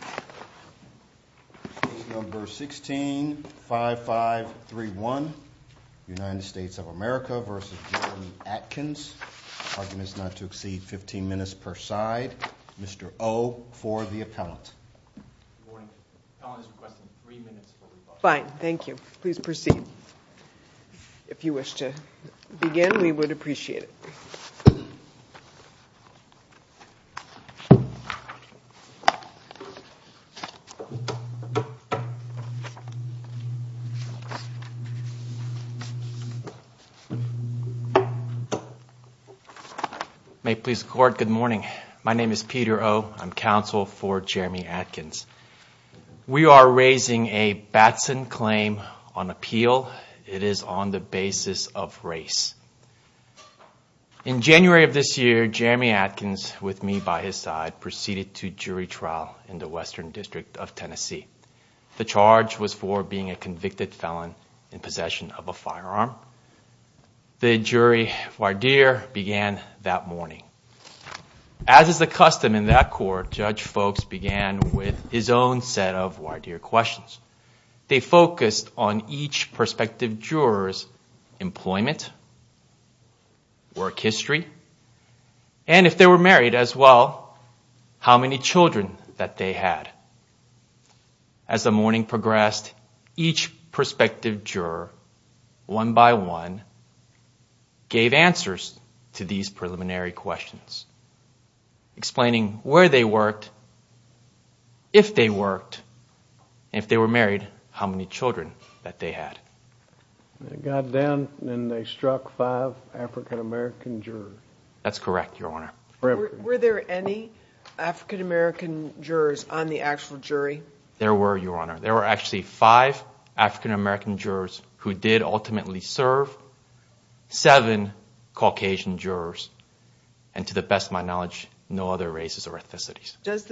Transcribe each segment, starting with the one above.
Case number 165531, United States of America v. Geremy Atkins. Arguments not to exceed 15 minutes per side. Mr. O for the appellant. Good morning. Appellant is requesting three minutes for rebuttal. Fine. Thank you. Please proceed. If you wish to begin, we would appreciate it. May it please the court, good morning. My name is Peter O. I'm counsel for Geremy Atkins. We are raising a Batson claim on appeal. It is on the basis of race. In January of this year, Geremy Atkins, with me by his side, proceeded to jury trial in the Western District of Tennessee. The charge was for being a convicted felon in possession of a firearm. The jury voir dire began that morning. As is the custom in that court, Judge Folks began with his own set of voir dire questions. They focused on each prospective juror's employment, work history, and if they were married as well, how many children that they had. As the morning progressed, each prospective juror, one by one, gave answers to these preliminary questions, explaining where they worked, if they worked, and if they were married, how many children that they had. They got down and they struck five African-American jurors. That's correct, Your Honor. Were there any African-American jurors on the actual jury? There were, Your Honor. There were actually five African-American jurors who did ultimately serve, seven Caucasian jurors, and to the best of my knowledge, no other races or ethnicities. Does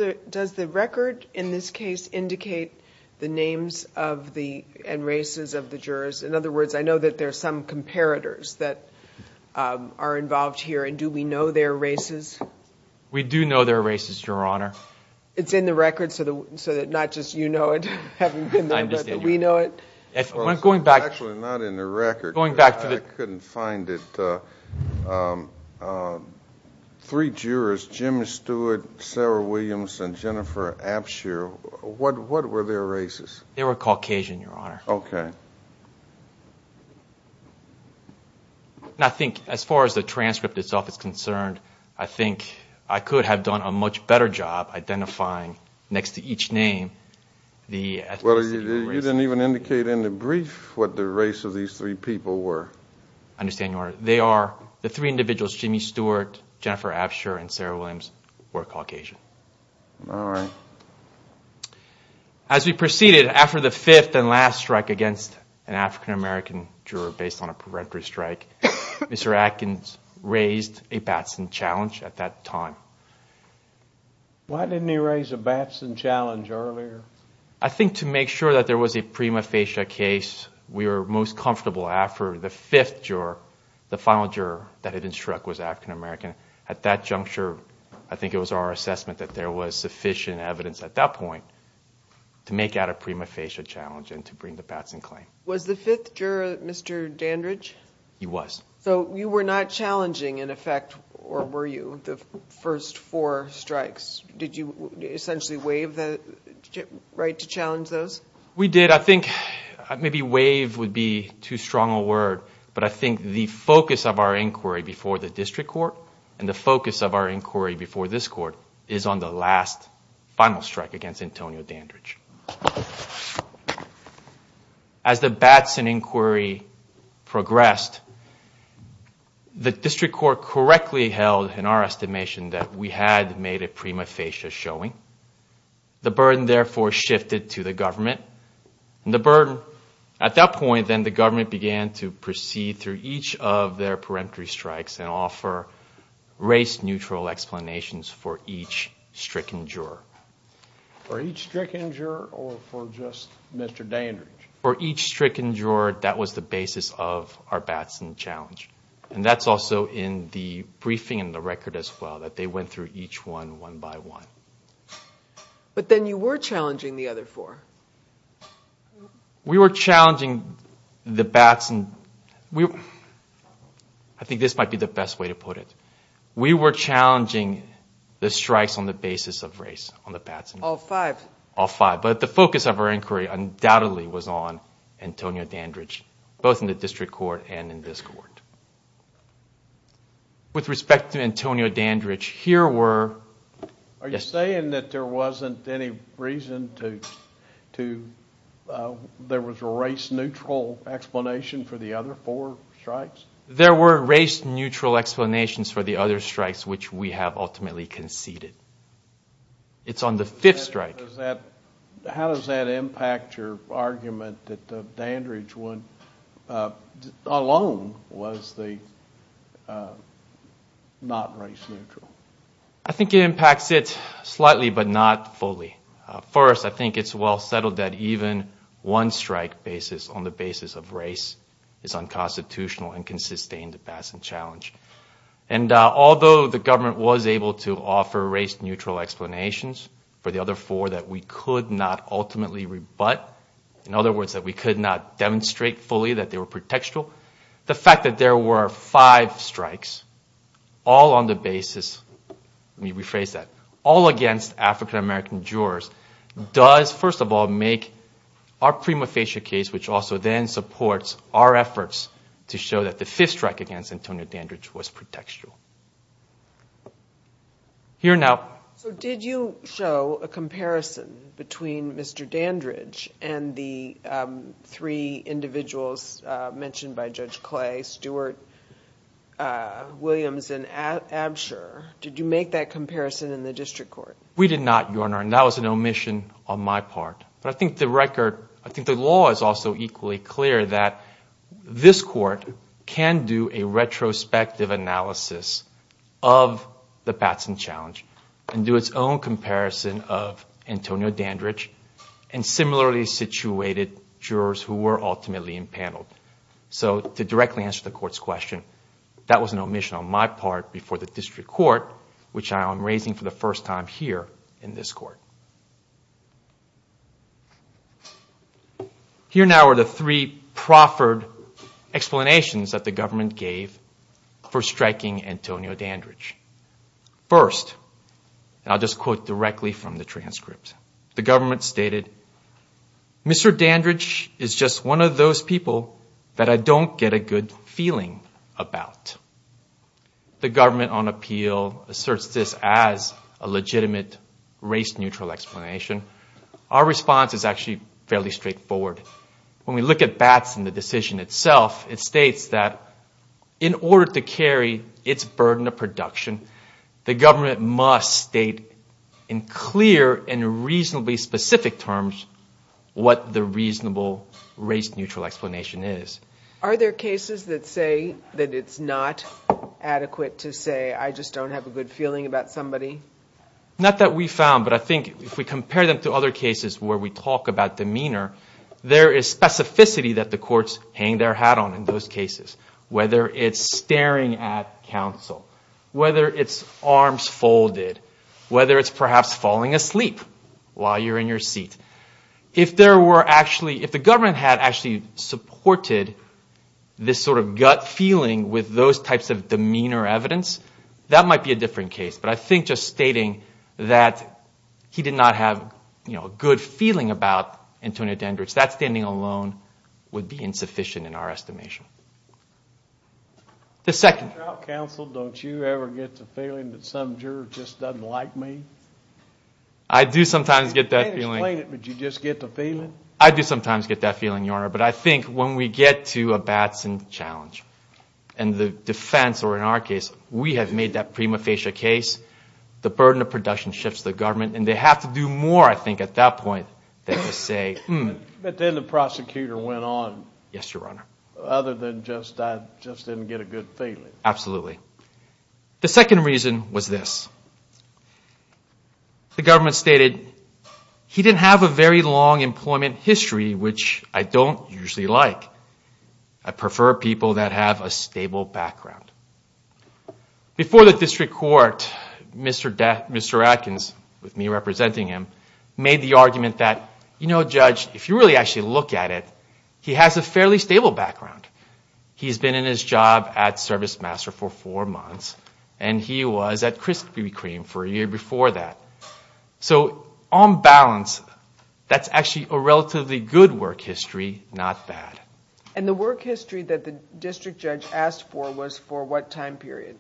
the record in this case indicate the names and races of the jurors? In other words, I know that there are some comparators that are involved here, and do we know their races? We do know their races, Your Honor. It's in the record so that not just you know it, but that we know it? It's actually not in the record. I couldn't find it. Three jurors, Jim Stewart, Sarah Williams, and Jennifer Abshire, what were their races? They were Caucasian, Your Honor. Okay. I think as far as the transcript itself is concerned, I think I could have done a much better job identifying next to each name the ethnicities and races. Well, you didn't even indicate in the brief what the race of these three people were. I understand, Your Honor. They are, the three individuals, Jim Stewart, Jennifer Abshire, and Sarah Williams, were Caucasian. All right. As we proceeded, after the fifth and last strike against an African-American juror based on a peremptory strike, Mr. Atkins raised a Batson challenge at that time. Why didn't he raise a Batson challenge earlier? I think to make sure that there was a prima facie case, we were most comfortable after the fifth juror, the final juror that had been struck was African-American. At that juncture, I think it was our assessment that there was sufficient evidence at that point to make out a prima facie challenge and to bring the Batson claim. Was the fifth juror Mr. Dandridge? He was. So you were not challenging, in effect, or were you, the first four strikes? Did you essentially waive the right to challenge those? We did. I think maybe waive would be too strong a word, but I think the focus of our inquiry before the district court and the focus of our inquiry before this court is on the last final strike against Antonio Dandridge. As the Batson inquiry progressed, the district court correctly held in our estimation that we had made a prima facie showing. The burden, therefore, shifted to the government. At that point, then, the government began to proceed through each of their peremptory strikes and offer race-neutral explanations for each stricken juror. For each stricken juror or for just Mr. Dandridge? For each stricken juror, that was the basis of our Batson challenge, and that's also in the briefing and the record as well, that they went through each one, one by one. But then you were challenging the other four. We were challenging the Batson. I think this might be the best way to put it. We were challenging the strikes on the basis of race on the Batson. All five? All five. But the focus of our inquiry undoubtedly was on Antonio Dandridge, both in the district court and in this court. With respect to Antonio Dandridge, here were... Are you saying that there wasn't any reason to... There was a race-neutral explanation for the other four strikes? There were race-neutral explanations for the other strikes which we have ultimately conceded. It's on the fifth strike. How does that impact your argument that Dandridge alone was not race-neutral? I think it impacts it slightly but not fully. First, I think it's well settled that even one strike on the basis of race is unconstitutional and can sustain the Batson challenge. Although the government was able to offer race-neutral explanations for the other four that we could not ultimately rebut, in other words, that we could not demonstrate fully that they were pretextual, the fact that there were five strikes all on the basis... Let me rephrase that. All against African-American jurors does, first of all, make our prima facie case, which also then supports our efforts to show that the fifth strike against Antonio Dandridge was pretextual. Here now... Did you show a comparison between Mr. Dandridge and the three individuals mentioned by Judge Clay, Stewart, Williams, and Absher? Did you make that comparison in the district court? We did not, Your Honor, and that was an omission on my part. I think the record... I think the law is also equally clear that this court can do a retrospective analysis of the Batson challenge and do its own comparison of Antonio Dandridge and similarly situated jurors who were ultimately impaneled. To directly answer the court's question, that was an omission on my part before the district court, which I am raising for the first time here in this court. Here now are the three proffered explanations that the government gave for striking Antonio Dandridge. First, I'll just quote directly from the transcript. The government stated, Mr. Dandridge is just one of those people that I don't get a good feeling about. The government on appeal asserts this as a legitimate race-neutral explanation. Our response is actually fairly straightforward. When we look at Batson, the decision itself, it states that in order to carry its burden of production, the government must state in clear and reasonably specific terms what the reasonable race-neutral explanation is. Are there cases that say that it's not adequate to say I just don't have a good feeling about somebody? Not that we found, but I think if we compare them to other cases where we talk about demeanor, there is specificity that the courts hang their hat on in those cases, whether it's staring at counsel, whether it's arms folded, whether it's perhaps falling asleep while you're in your seat. If the government had actually supported this sort of gut feeling with those types of demeanor evidence, that might be a different case. But I think just stating that he did not have a good feeling about Antonio Dandridge, that standing alone would be insufficient in our estimation. The second. When you're out counsel, don't you ever get the feeling that some juror just doesn't like me? I do sometimes get that feeling. You can't explain it, but you just get the feeling? I do sometimes get that feeling, Your Honor, but I think when we get to a Batson challenge, and the defense or in our case, we have made that prima facie case, the burden of production shifts to the government, and they have to do more, I think, at that point than to say, hmm. But then the prosecutor went on. Yes, Your Honor. Other than just I just didn't get a good feeling. Absolutely. The second reason was this. The government stated he didn't have a very long employment history, which I don't usually like. I prefer people that have a stable background. Before the district court, Mr. Adkins, with me representing him, made the argument that, you know, Judge, if you really actually look at it, he has a fairly stable background. He's been in his job at ServiceMaster for four months, and he was at Krispy Kreme for a year before that. So on balance, that's actually a relatively good work history, not bad. And the work history that the district judge asked for was for what time period?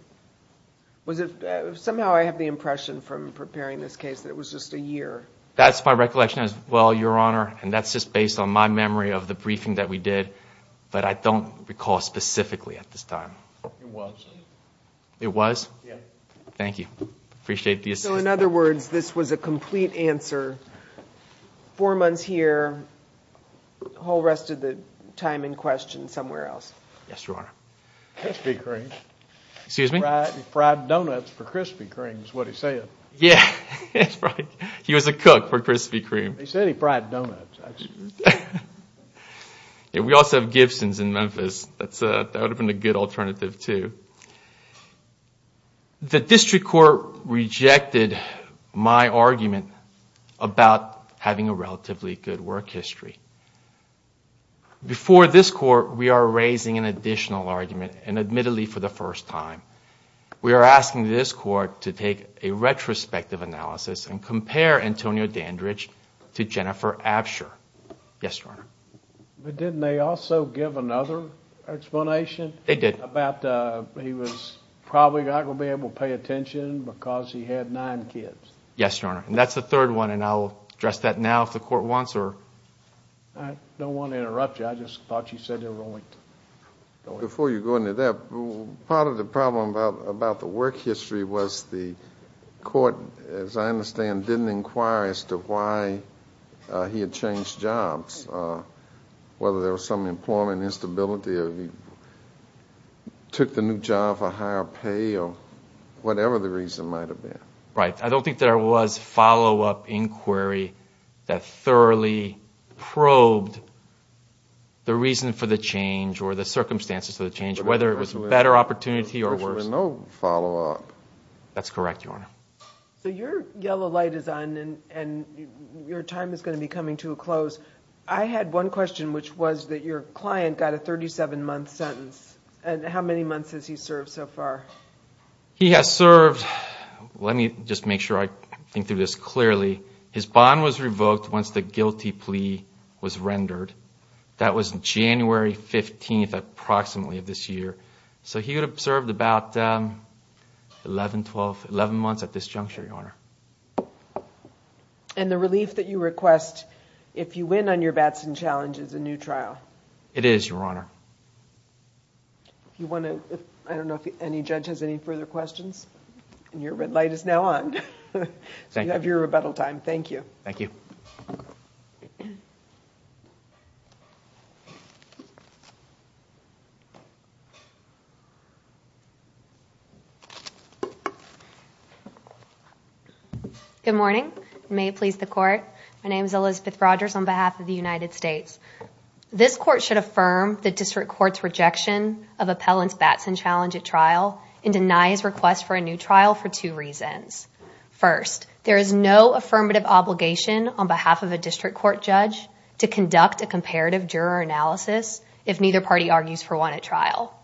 Somehow I have the impression from preparing this case that it was just a year. That's my recollection as well, Your Honor, and that's just based on my memory of the briefing that we did. But I don't recall specifically at this time. It was. It was? Yeah. Thank you. Appreciate the assistance. So in other words, this was a complete answer, four months here, whole rest of the time in question somewhere else. Yes, Your Honor. Krispy Kreme. Excuse me? Fried donuts for Krispy Kreme is what he said. Yeah, he was a cook for Krispy Kreme. He said he fried donuts. We also have Gibson's in Memphis. That would have been a good alternative too. The district court rejected my argument about having a relatively good work history. Before this court, we are raising an additional argument, and admittedly for the first time. We are asking this court to take a retrospective analysis and compare Antonio Dandridge to Jennifer Absher. Yes, Your Honor. But didn't they also give another explanation? They did. About he was probably not going to be able to pay attention because he had nine kids. Yes, Your Honor, and that's the third one, and I'll address that now if the court wants or... I don't want to interrupt you. I just thought you said there were only... Before you go into that, part of the problem about the work history was the court, as I understand, didn't inquire as to why he had changed jobs, whether there was some employment instability or he took the new job for higher pay or whatever the reason might have been. Right. I don't think there was follow-up inquiry that thoroughly probed the reason for the change or the circumstances of the change, whether it was a better opportunity or worse. There was virtually no follow-up. That's correct, Your Honor. So your yellow light is on, and your time is going to be coming to a close. I had one question, which was that your client got a 37-month sentence, and how many months has he served so far? He has served. Let me just make sure I think through this clearly. His bond was revoked once the guilty plea was rendered. That was January 15th, approximately, of this year. So he had served about 11 months at this juncture, Your Honor. And the relief that you request, if you win on your Batson challenge, is a new trial? It is, Your Honor. I don't know if any judge has any further questions. And your red light is now on. You have your rebuttal time. Thank you. Thank you. Thank you. Good morning. May it please the Court. My name is Elizabeth Rogers on behalf of the United States. This Court should affirm the District Court's rejection of Appellant's Batson challenge at trial and deny his request for a new trial for two reasons. First, there is no affirmative obligation on behalf of a District Court judge to conduct a comparative juror analysis if neither party argues for one at trial.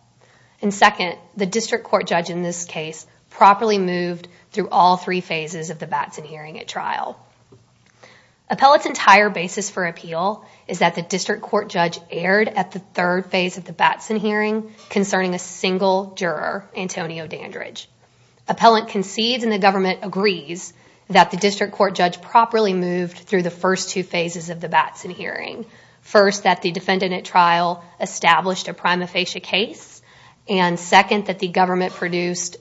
And second, the District Court judge in this case properly moved through all three phases of the Batson hearing at trial. Appellant's entire basis for appeal is that the District Court judge erred at the third phase of the Batson hearing concerning a single juror, Antonio Dandridge. Appellant concedes and the government agrees that the District Court judge properly moved through the first two phases of the Batson hearing. First, that the defendant at trial established a prima facie case. And second, that the government produced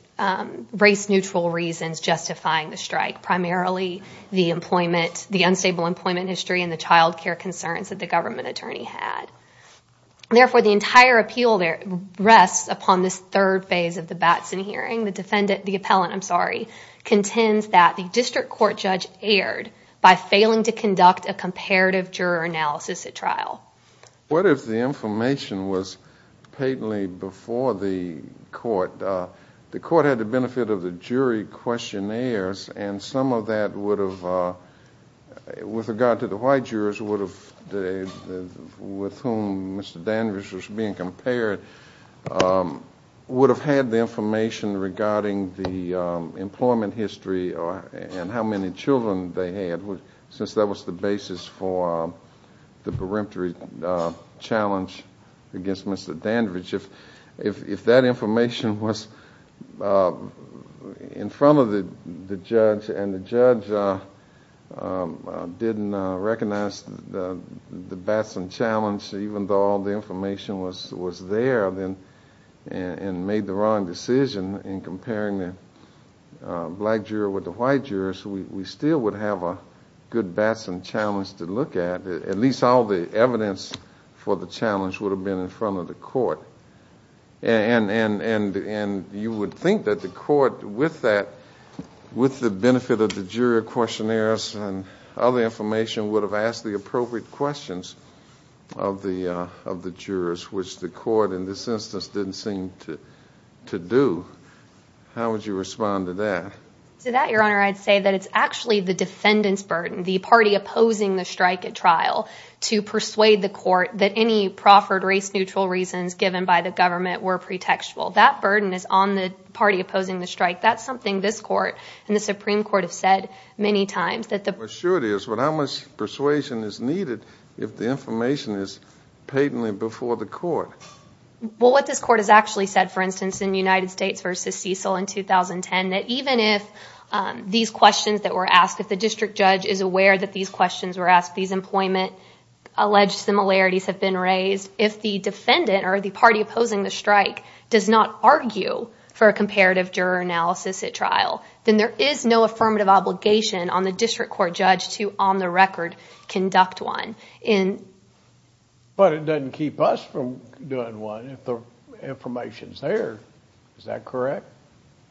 race-neutral reasons justifying the strike, primarily the unstable employment history and the child care concerns that the government attorney had. Therefore, the entire appeal rests upon this third phase of the Batson hearing. The defendant, the Appellant, I'm sorry, contends that the District Court judge erred by failing to conduct a comparative juror analysis at trial. What if the information was patently before the Court? The Court had the benefit of the jury questionnaires and some of that would have, with regard to the white jurors with whom Mr. Dandridge was being compared, would have had the information regarding the employment history and how many children they had, since that was the basis for the peremptory challenge against Mr. Dandridge. If that information was in front of the judge and the judge didn't recognize the Batson challenge, even though all the information was there and made the wrong decision in comparing the black juror with the white juror, we still would have a good Batson challenge to look at. At least all the evidence for the challenge would have been in front of the Court. And you would think that the Court, with the benefit of the jury questionnaires and other information, would have asked the appropriate questions of the jurors, which the Court in this instance didn't seem to do. How would you respond to that? To that, Your Honor, I'd say that it's actually the defendant's burden, the party opposing the strike at trial, to persuade the Court that any proffered race-neutral reasons given by the government were pretextual. That burden is on the party opposing the strike. That's something this Court and the Supreme Court have said many times. But how much persuasion is needed if the information is patently before the Court? Well, what this Court has actually said, for instance, in United States v. Cecil in 2010, that even if these questions that were asked, if the district judge is aware that these questions were asked, these employment-alleged similarities have been raised, if the defendant or the party opposing the strike does not argue for a comparative juror analysis at trial, then there is no affirmative obligation on the district court judge to on the record conduct one. But it doesn't keep us from doing one if the information is there. Is that correct?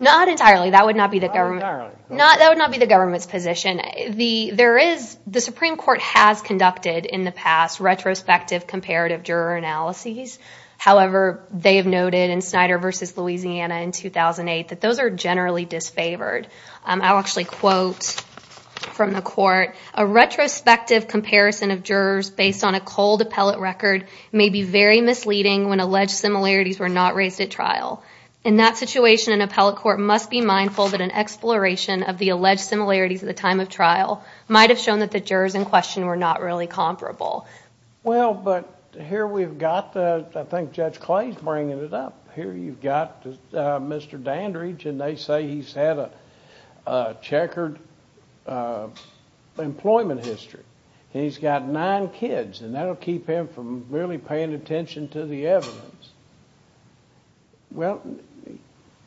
Not entirely. That would not be the government's position. The Supreme Court has conducted in the past retrospective comparative juror analyses. However, they have noted in Snyder v. Louisiana in 2008 that those are generally disfavored. I'll actually quote from the Court. Well, but here we've got, I think Judge Clay is bringing it up, here you've got Mr. Dandridge, and they say he's had a checkered employment history. He's got nine kids, and that'll keep him from really paying attention to the evidence. Well,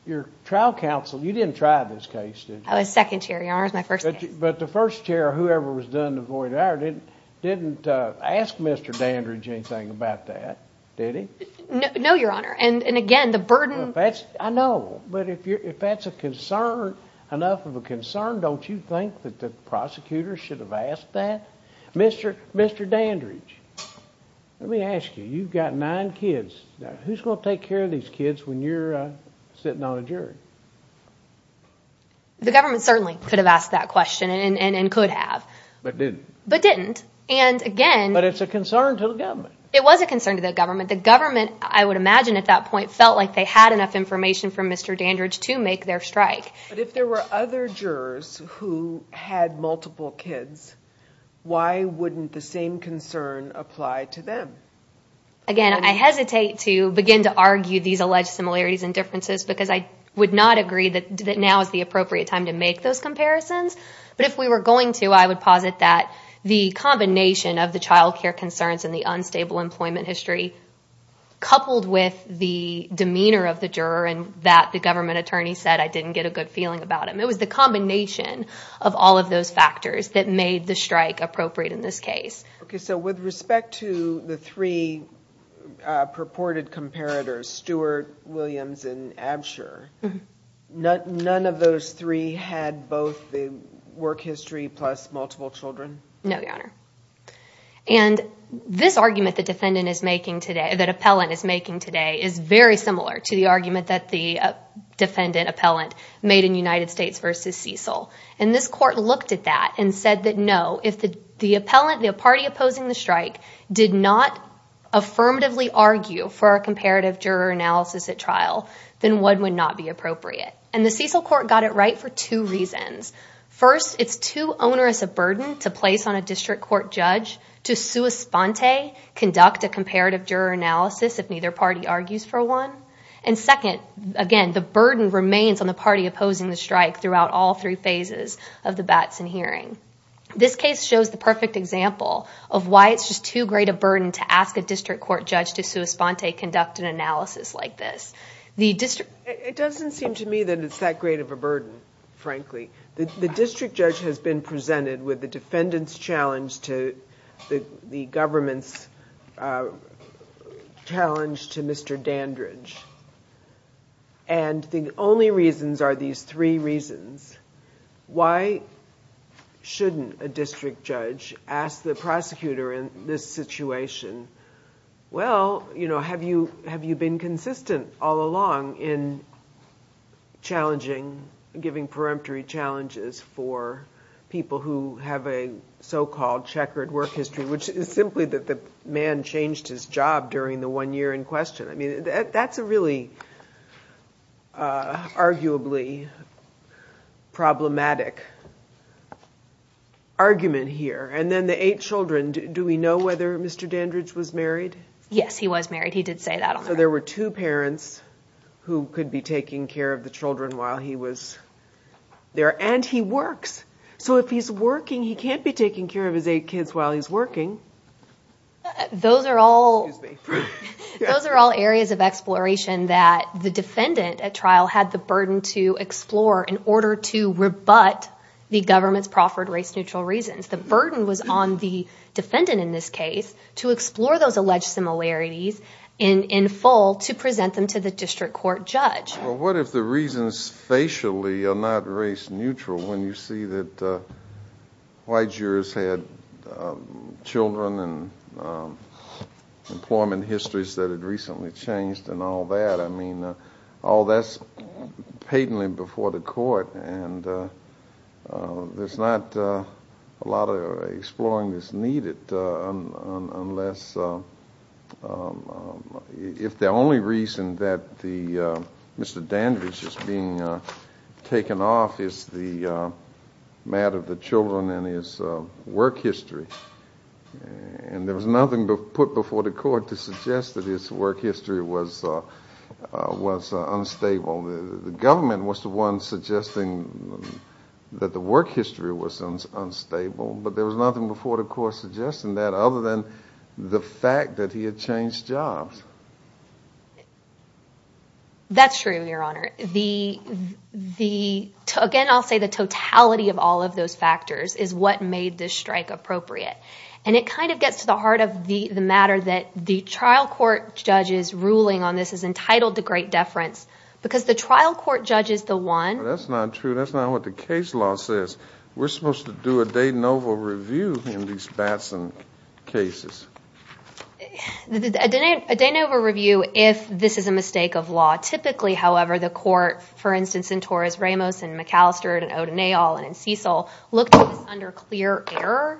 your trial counsel, you didn't try this case, did you? I was second chair, Your Honor, it was my first case. But the first chair, whoever was done to void the error, didn't ask Mr. Dandridge anything about that, did he? No, Your Honor, and again, the burden... I know, but if that's enough of a concern, don't you think that the prosecutor should have asked that? Mr. Dandridge, let me ask you, you've got nine kids. Who's going to take care of these kids when you're sitting on a jury? The government certainly could have asked that question, and could have. But it's a concern to the government. But if there were other jurors who had multiple kids, why wouldn't the same concern apply to them? Again, I hesitate to begin to argue these alleged similarities and differences, because I would not agree that now is the appropriate time to make those comparisons. But if we were going to, I would posit that the combination of the child care concerns and the unstable employment history, coupled with the demeanor of the juror and that the government attorney said, I didn't get a good feeling about him. It was the combination of all of those factors that made the strike appropriate in this case. Okay, so with respect to the three purported comparators, Stewart, Williams, and Absher, none of those three had both the work history plus multiple children? No, Your Honor, and this argument the defendant is making today, that appellant is making today, is very similar to the argument that the defendant appellant made in United States v. Cecil. And this court looked at that and said that no, if the appellant, the party opposing the strike, did not affirmatively argue for a comparative juror analysis at trial, then what would not be appropriate? And the Cecil court got it right for two reasons. First, it's too onerous a burden to place on a district court judge to sua sponte conduct a comparative juror analysis if neither party argues for one, and second, again, the burden remains on the party opposing the strike throughout all three phases of the Batson hearing. This case shows the perfect example of why it's just too great a burden to ask a district court judge to sua sponte conduct an analysis like this. It doesn't seem to me that it's that great of a burden, frankly. The district judge has been presented with the defendant's challenge to the government's challenge to Mr. Dandridge. And the only reasons are these three reasons. Why shouldn't a district judge ask the prosecutor in this situation, well, have you been consistent all along in challenging, giving peremptory challenges for people who have a so-called checkered work history, which is simply that the man changed his job during the one year in question. I mean, that's a really arguably problematic argument here. And then the eight children, do we know whether Mr. Dandridge was married? Yes, he was married. He did say that. So there were two parents who could be taking care of the children while he was there, and he works. So if he's working, he can't be taking care of his eight kids while he's working. Those are all areas of exploration that the defendant at trial had the burden to explore in order to rebut the government's proffered race-neutral reasons. The burden was on the defendant in this case to explore those alleged similarities in full to present them to the district court judge. Well, what if the reasons facially are not race-neutral when you see that white jurors had children and children of color? Employment histories that had recently changed and all that, I mean, all that's patently before the court. And there's not a lot of exploring that's needed unless, if the only reason that Mr. Dandridge is being taken off is the matter of the children and his work history. And there was nothing put before the court to suggest that his work history was unstable. The government was the one suggesting that the work history was unstable, but there was nothing before the court suggesting that other than the fact that he had changed jobs. That's true, Your Honor. Again, I'll say the totality of all of those factors is what made this strike appropriate. And it kind of gets to the heart of the matter that the trial court judge's ruling on this is entitled to great deference, because the trial court judge is the one... That's not true. That's not what the case law says. We're supposed to do a de novo review in these Batson cases. A de novo review if this is a mistake of law. Typically, however, the court, for instance, in Torres Ramos and McAllister and O'Donnell and in Cecil, looked at this under clear error.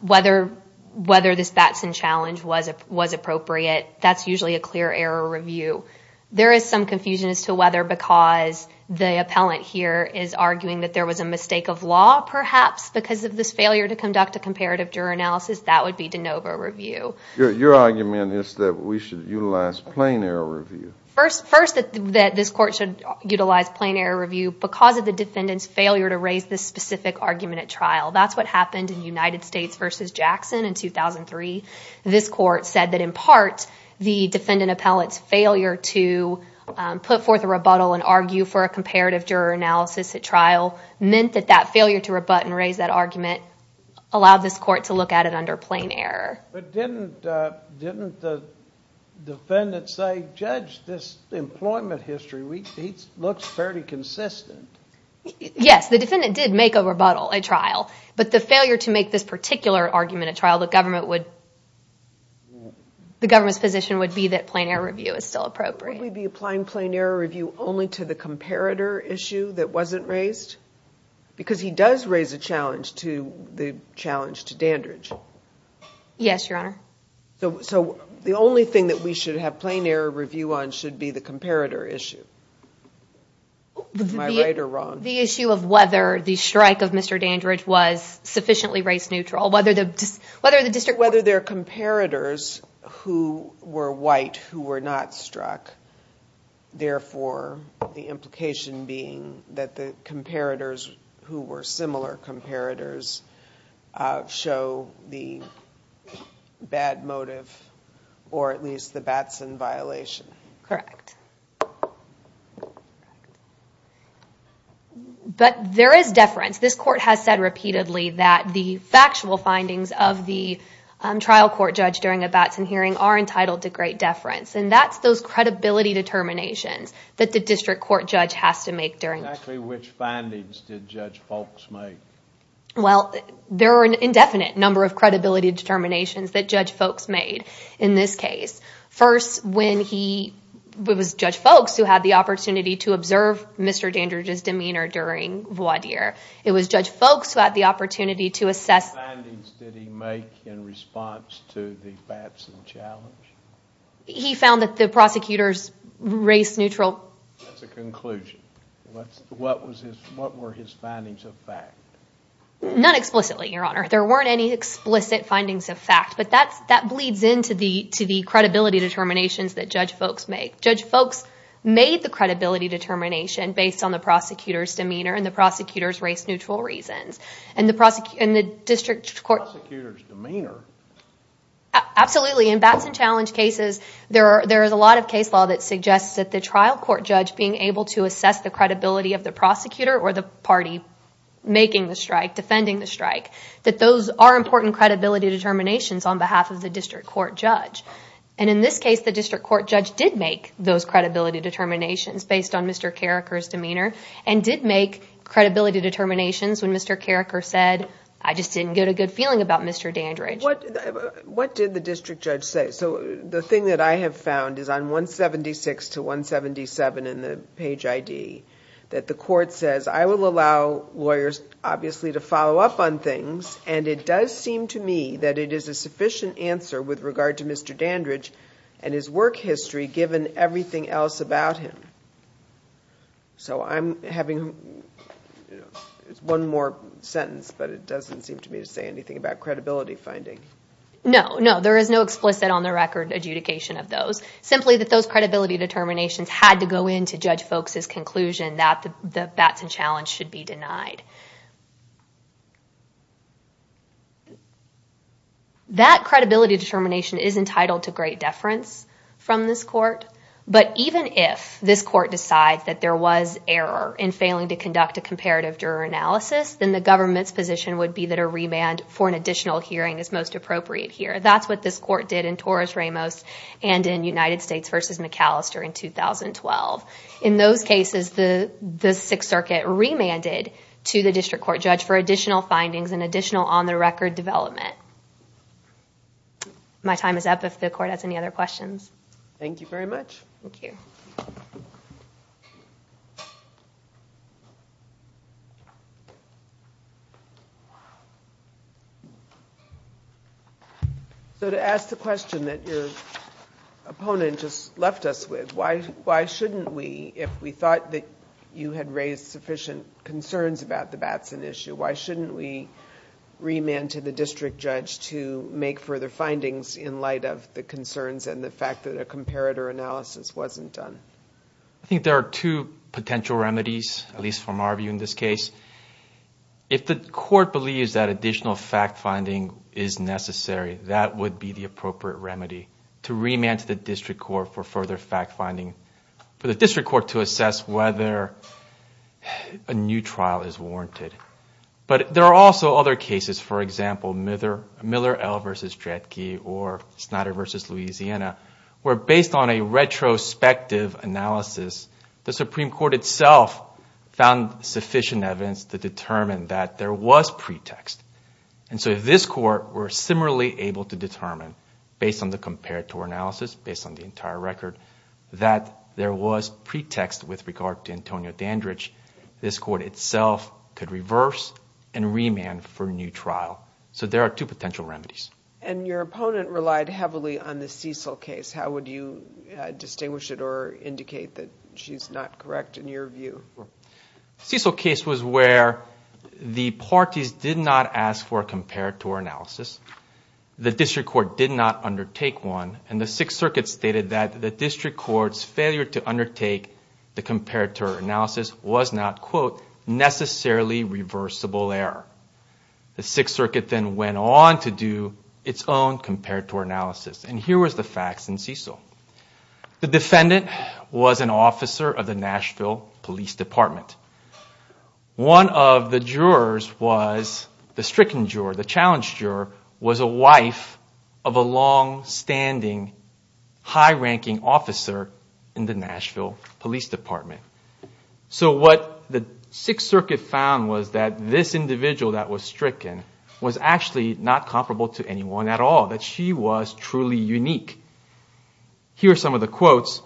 Whether this Batson challenge was appropriate, that's usually a clear error review. There is some confusion as to whether because the appellant here is arguing that there was a mistake of law, perhaps, because of this failure to conduct a comparative juror analysis, that would be de novo review. Your argument is that we should utilize plain error review. First, that this court should utilize plain error review because of the defendant's failure to raise this specific argument at trial. That's what happened in United States v. Jackson in 2003. This court said that, in part, the defendant appellant's failure to put forth a rebuttal and argue for a comparative juror analysis at trial meant that that failure to rebut and raise that argument allowed this court to look at it under plain error. But didn't the defendant say, judge, this employment history looks fairly consistent? Yes, the defendant did make a rebuttal at trial, but the failure to make this particular argument at trial, the government's position would be that plain error review is still appropriate. Would we be applying plain error review only to the comparator issue that wasn't raised? Because he does raise a challenge to Dandridge. So the only thing that we should have plain error review on should be the comparator issue. Am I right or wrong? The issue of whether the strike of Mr. Dandridge was sufficiently race neutral. Whether there are comparators who were white who were not struck. Therefore, the implication being that the comparators who were similar comparators show the bad motive or at least the Batson violation. Correct. But there is deference. This court has said repeatedly that the factual findings of the trial court judge during a Batson hearing are entitled to great deference. And that's those credibility determinations that the district court judge has to make. Which findings did Judge Foulkes make? Well, there are an indefinite number of credibility determinations that Judge Foulkes made in this case. First, it was Judge Foulkes who had the opportunity to observe Mr. Dandridge's demeanor during voir dire. It was Judge Foulkes who had the opportunity to assess... He found that the prosecutors race neutral... Not explicitly, Your Honor. There weren't any explicit findings of fact. But that bleeds into the credibility determinations that Judge Foulkes made. Judge Foulkes made the credibility determination based on the prosecutor's demeanor and the prosecutor's race neutral reasons. And the district court... Absolutely. In Batson Challenge cases, there is a lot of case law that suggests that the trial court judge being able to assess the credibility of the prosecutor or the party making the strike, defending the strike. That those are important credibility determinations on behalf of the district court judge. And in this case, the district court judge did make those credibility determinations based on Mr. Carriker's demeanor. And did make credibility determinations when Mr. Carriker said, I just didn't get a good feeling about Mr. Dandridge. What did the district judge say? So the thing that I have found is on 176 to 177 in the page ID, that the court says, I will allow lawyers obviously to follow up on things. And it does seem to me that it is a sufficient answer with regard to Mr. Dandridge and his work history given everything else about him. So I'm having one more sentence, but it doesn't seem to me to say anything about credibility finding. No, no. There is no explicit on the record adjudication of those. Simply that those credibility determinations had to go into Judge Folks' conclusion that the Batson Challenge should be denied. That credibility determination is entitled to great deference from this court. And if this court decides that there was error in failing to conduct a comparative juror analysis, then the government's position would be that a remand for an additional hearing is most appropriate here. That's what this court did in Torres Ramos and in United States v. McAllister in 2012. In those cases, the Sixth Circuit remanded to the district court judge for additional findings and additional on the record development. My time is up if the court has any other questions. So to ask the question that your opponent just left us with, why shouldn't we, if we thought that you had raised sufficient concerns about the Batson issue, why shouldn't we remand to the district judge to make further findings in light of the concerns and the fact that a comparator analysis wasn't done? I think there are two potential remedies, at least from our view in this case. If the court believes that additional fact-finding is necessary, that would be the appropriate remedy, to remand to the district court for further fact-finding, for the district court to assess whether a new trial is warranted. But there are also other cases, for example, Miller L. v. Dredke or Snyder v. Louisiana, where based on a retrospective analysis, the Supreme Court itself found sufficient evidence to determine that there was pretext. And so if this court were similarly able to determine, based on the comparator analysis, based on the entire record, that there was pretext with regard to Antonio Dandridge, this court itself could reverse, and this court could reverse. And remand for new trial. So there are two potential remedies. And your opponent relied heavily on the Cecil case. How would you distinguish it or indicate that she's not correct in your view? The Cecil case was where the parties did not ask for a comparator analysis, the district court did not undertake one, and the Sixth Circuit stated that the district court's failure to undertake the comparator analysis was not, quote, necessarily reversible in this case. It was an intentional error. The Sixth Circuit then went on to do its own comparator analysis. And here was the facts in Cecil. The defendant was an officer of the Nashville Police Department. One of the jurors was, the stricken juror, the challenged juror, was a wife of a long-standing, high-ranking officer in the Nashville Police Department. So what the Sixth Circuit found was that this individual that was stricken was actually not comparable to anyone at all, that she was truly unique. Here are some of the quotes.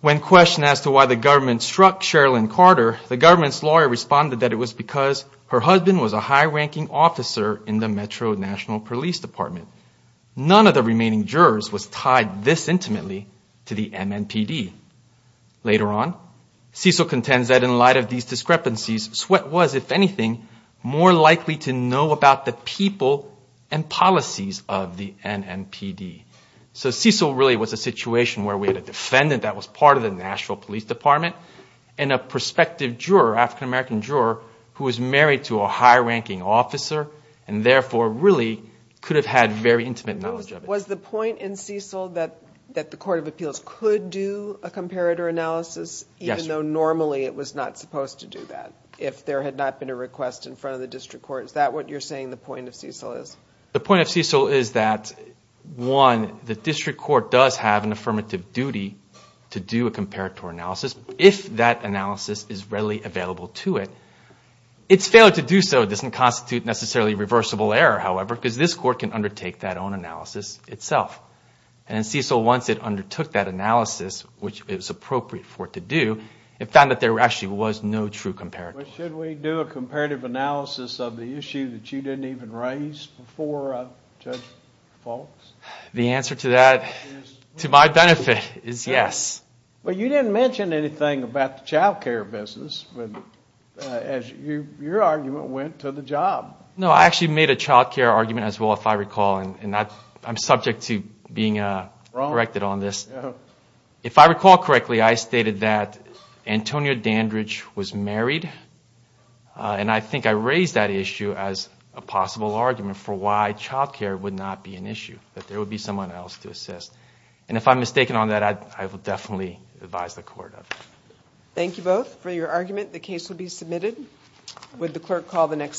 When questioned as to why the government struck Sherilyn Carter, the government's lawyer responded that it was because her husband was a high-ranking officer in the Metro National Police Department. None of the remaining jurors was tied this intimately to the MNPD. Later on, Cecil contends that in light of these discrepancies, Sweatt was, if anything, more likely to know about the people and policies of the NNPD. So Cecil really was a situation where we had a defendant that was part of the Nashville Police Department and a prospective juror, African-American juror, who was married to a high-ranking officer and therefore really could have had very intimate knowledge of it. Was the point in Cecil that the Court of Appeals could do a comparator analysis even though normally it was not supposed to do that if there had not been a request in front of the district court? Is that what you're saying the point of Cecil is? The point of Cecil is that, one, the district court does have an affirmative duty to do a comparator analysis if that analysis is readily available to it. It's failure to do so doesn't constitute necessarily reversible error, however, because this court can undertake that own analysis. And in Cecil, once it undertook that analysis, which it was appropriate for it to do, it found that there actually was no true comparator. But should we do a comparative analysis of the issue that you didn't even raise before Judge Faulks? The answer to that, to my benefit, is yes. But you didn't mention anything about the child care business as your argument went to the job. No, I actually made a child care argument as well, if I recall, and I'm subject to being corrected on this. If I recall correctly, I stated that Antonia Dandridge was married. And I think I raised that issue as a possible argument for why child care would not be an issue, that there would be someone else to assess. And if I'm mistaken on that, I will definitely advise the Court of it.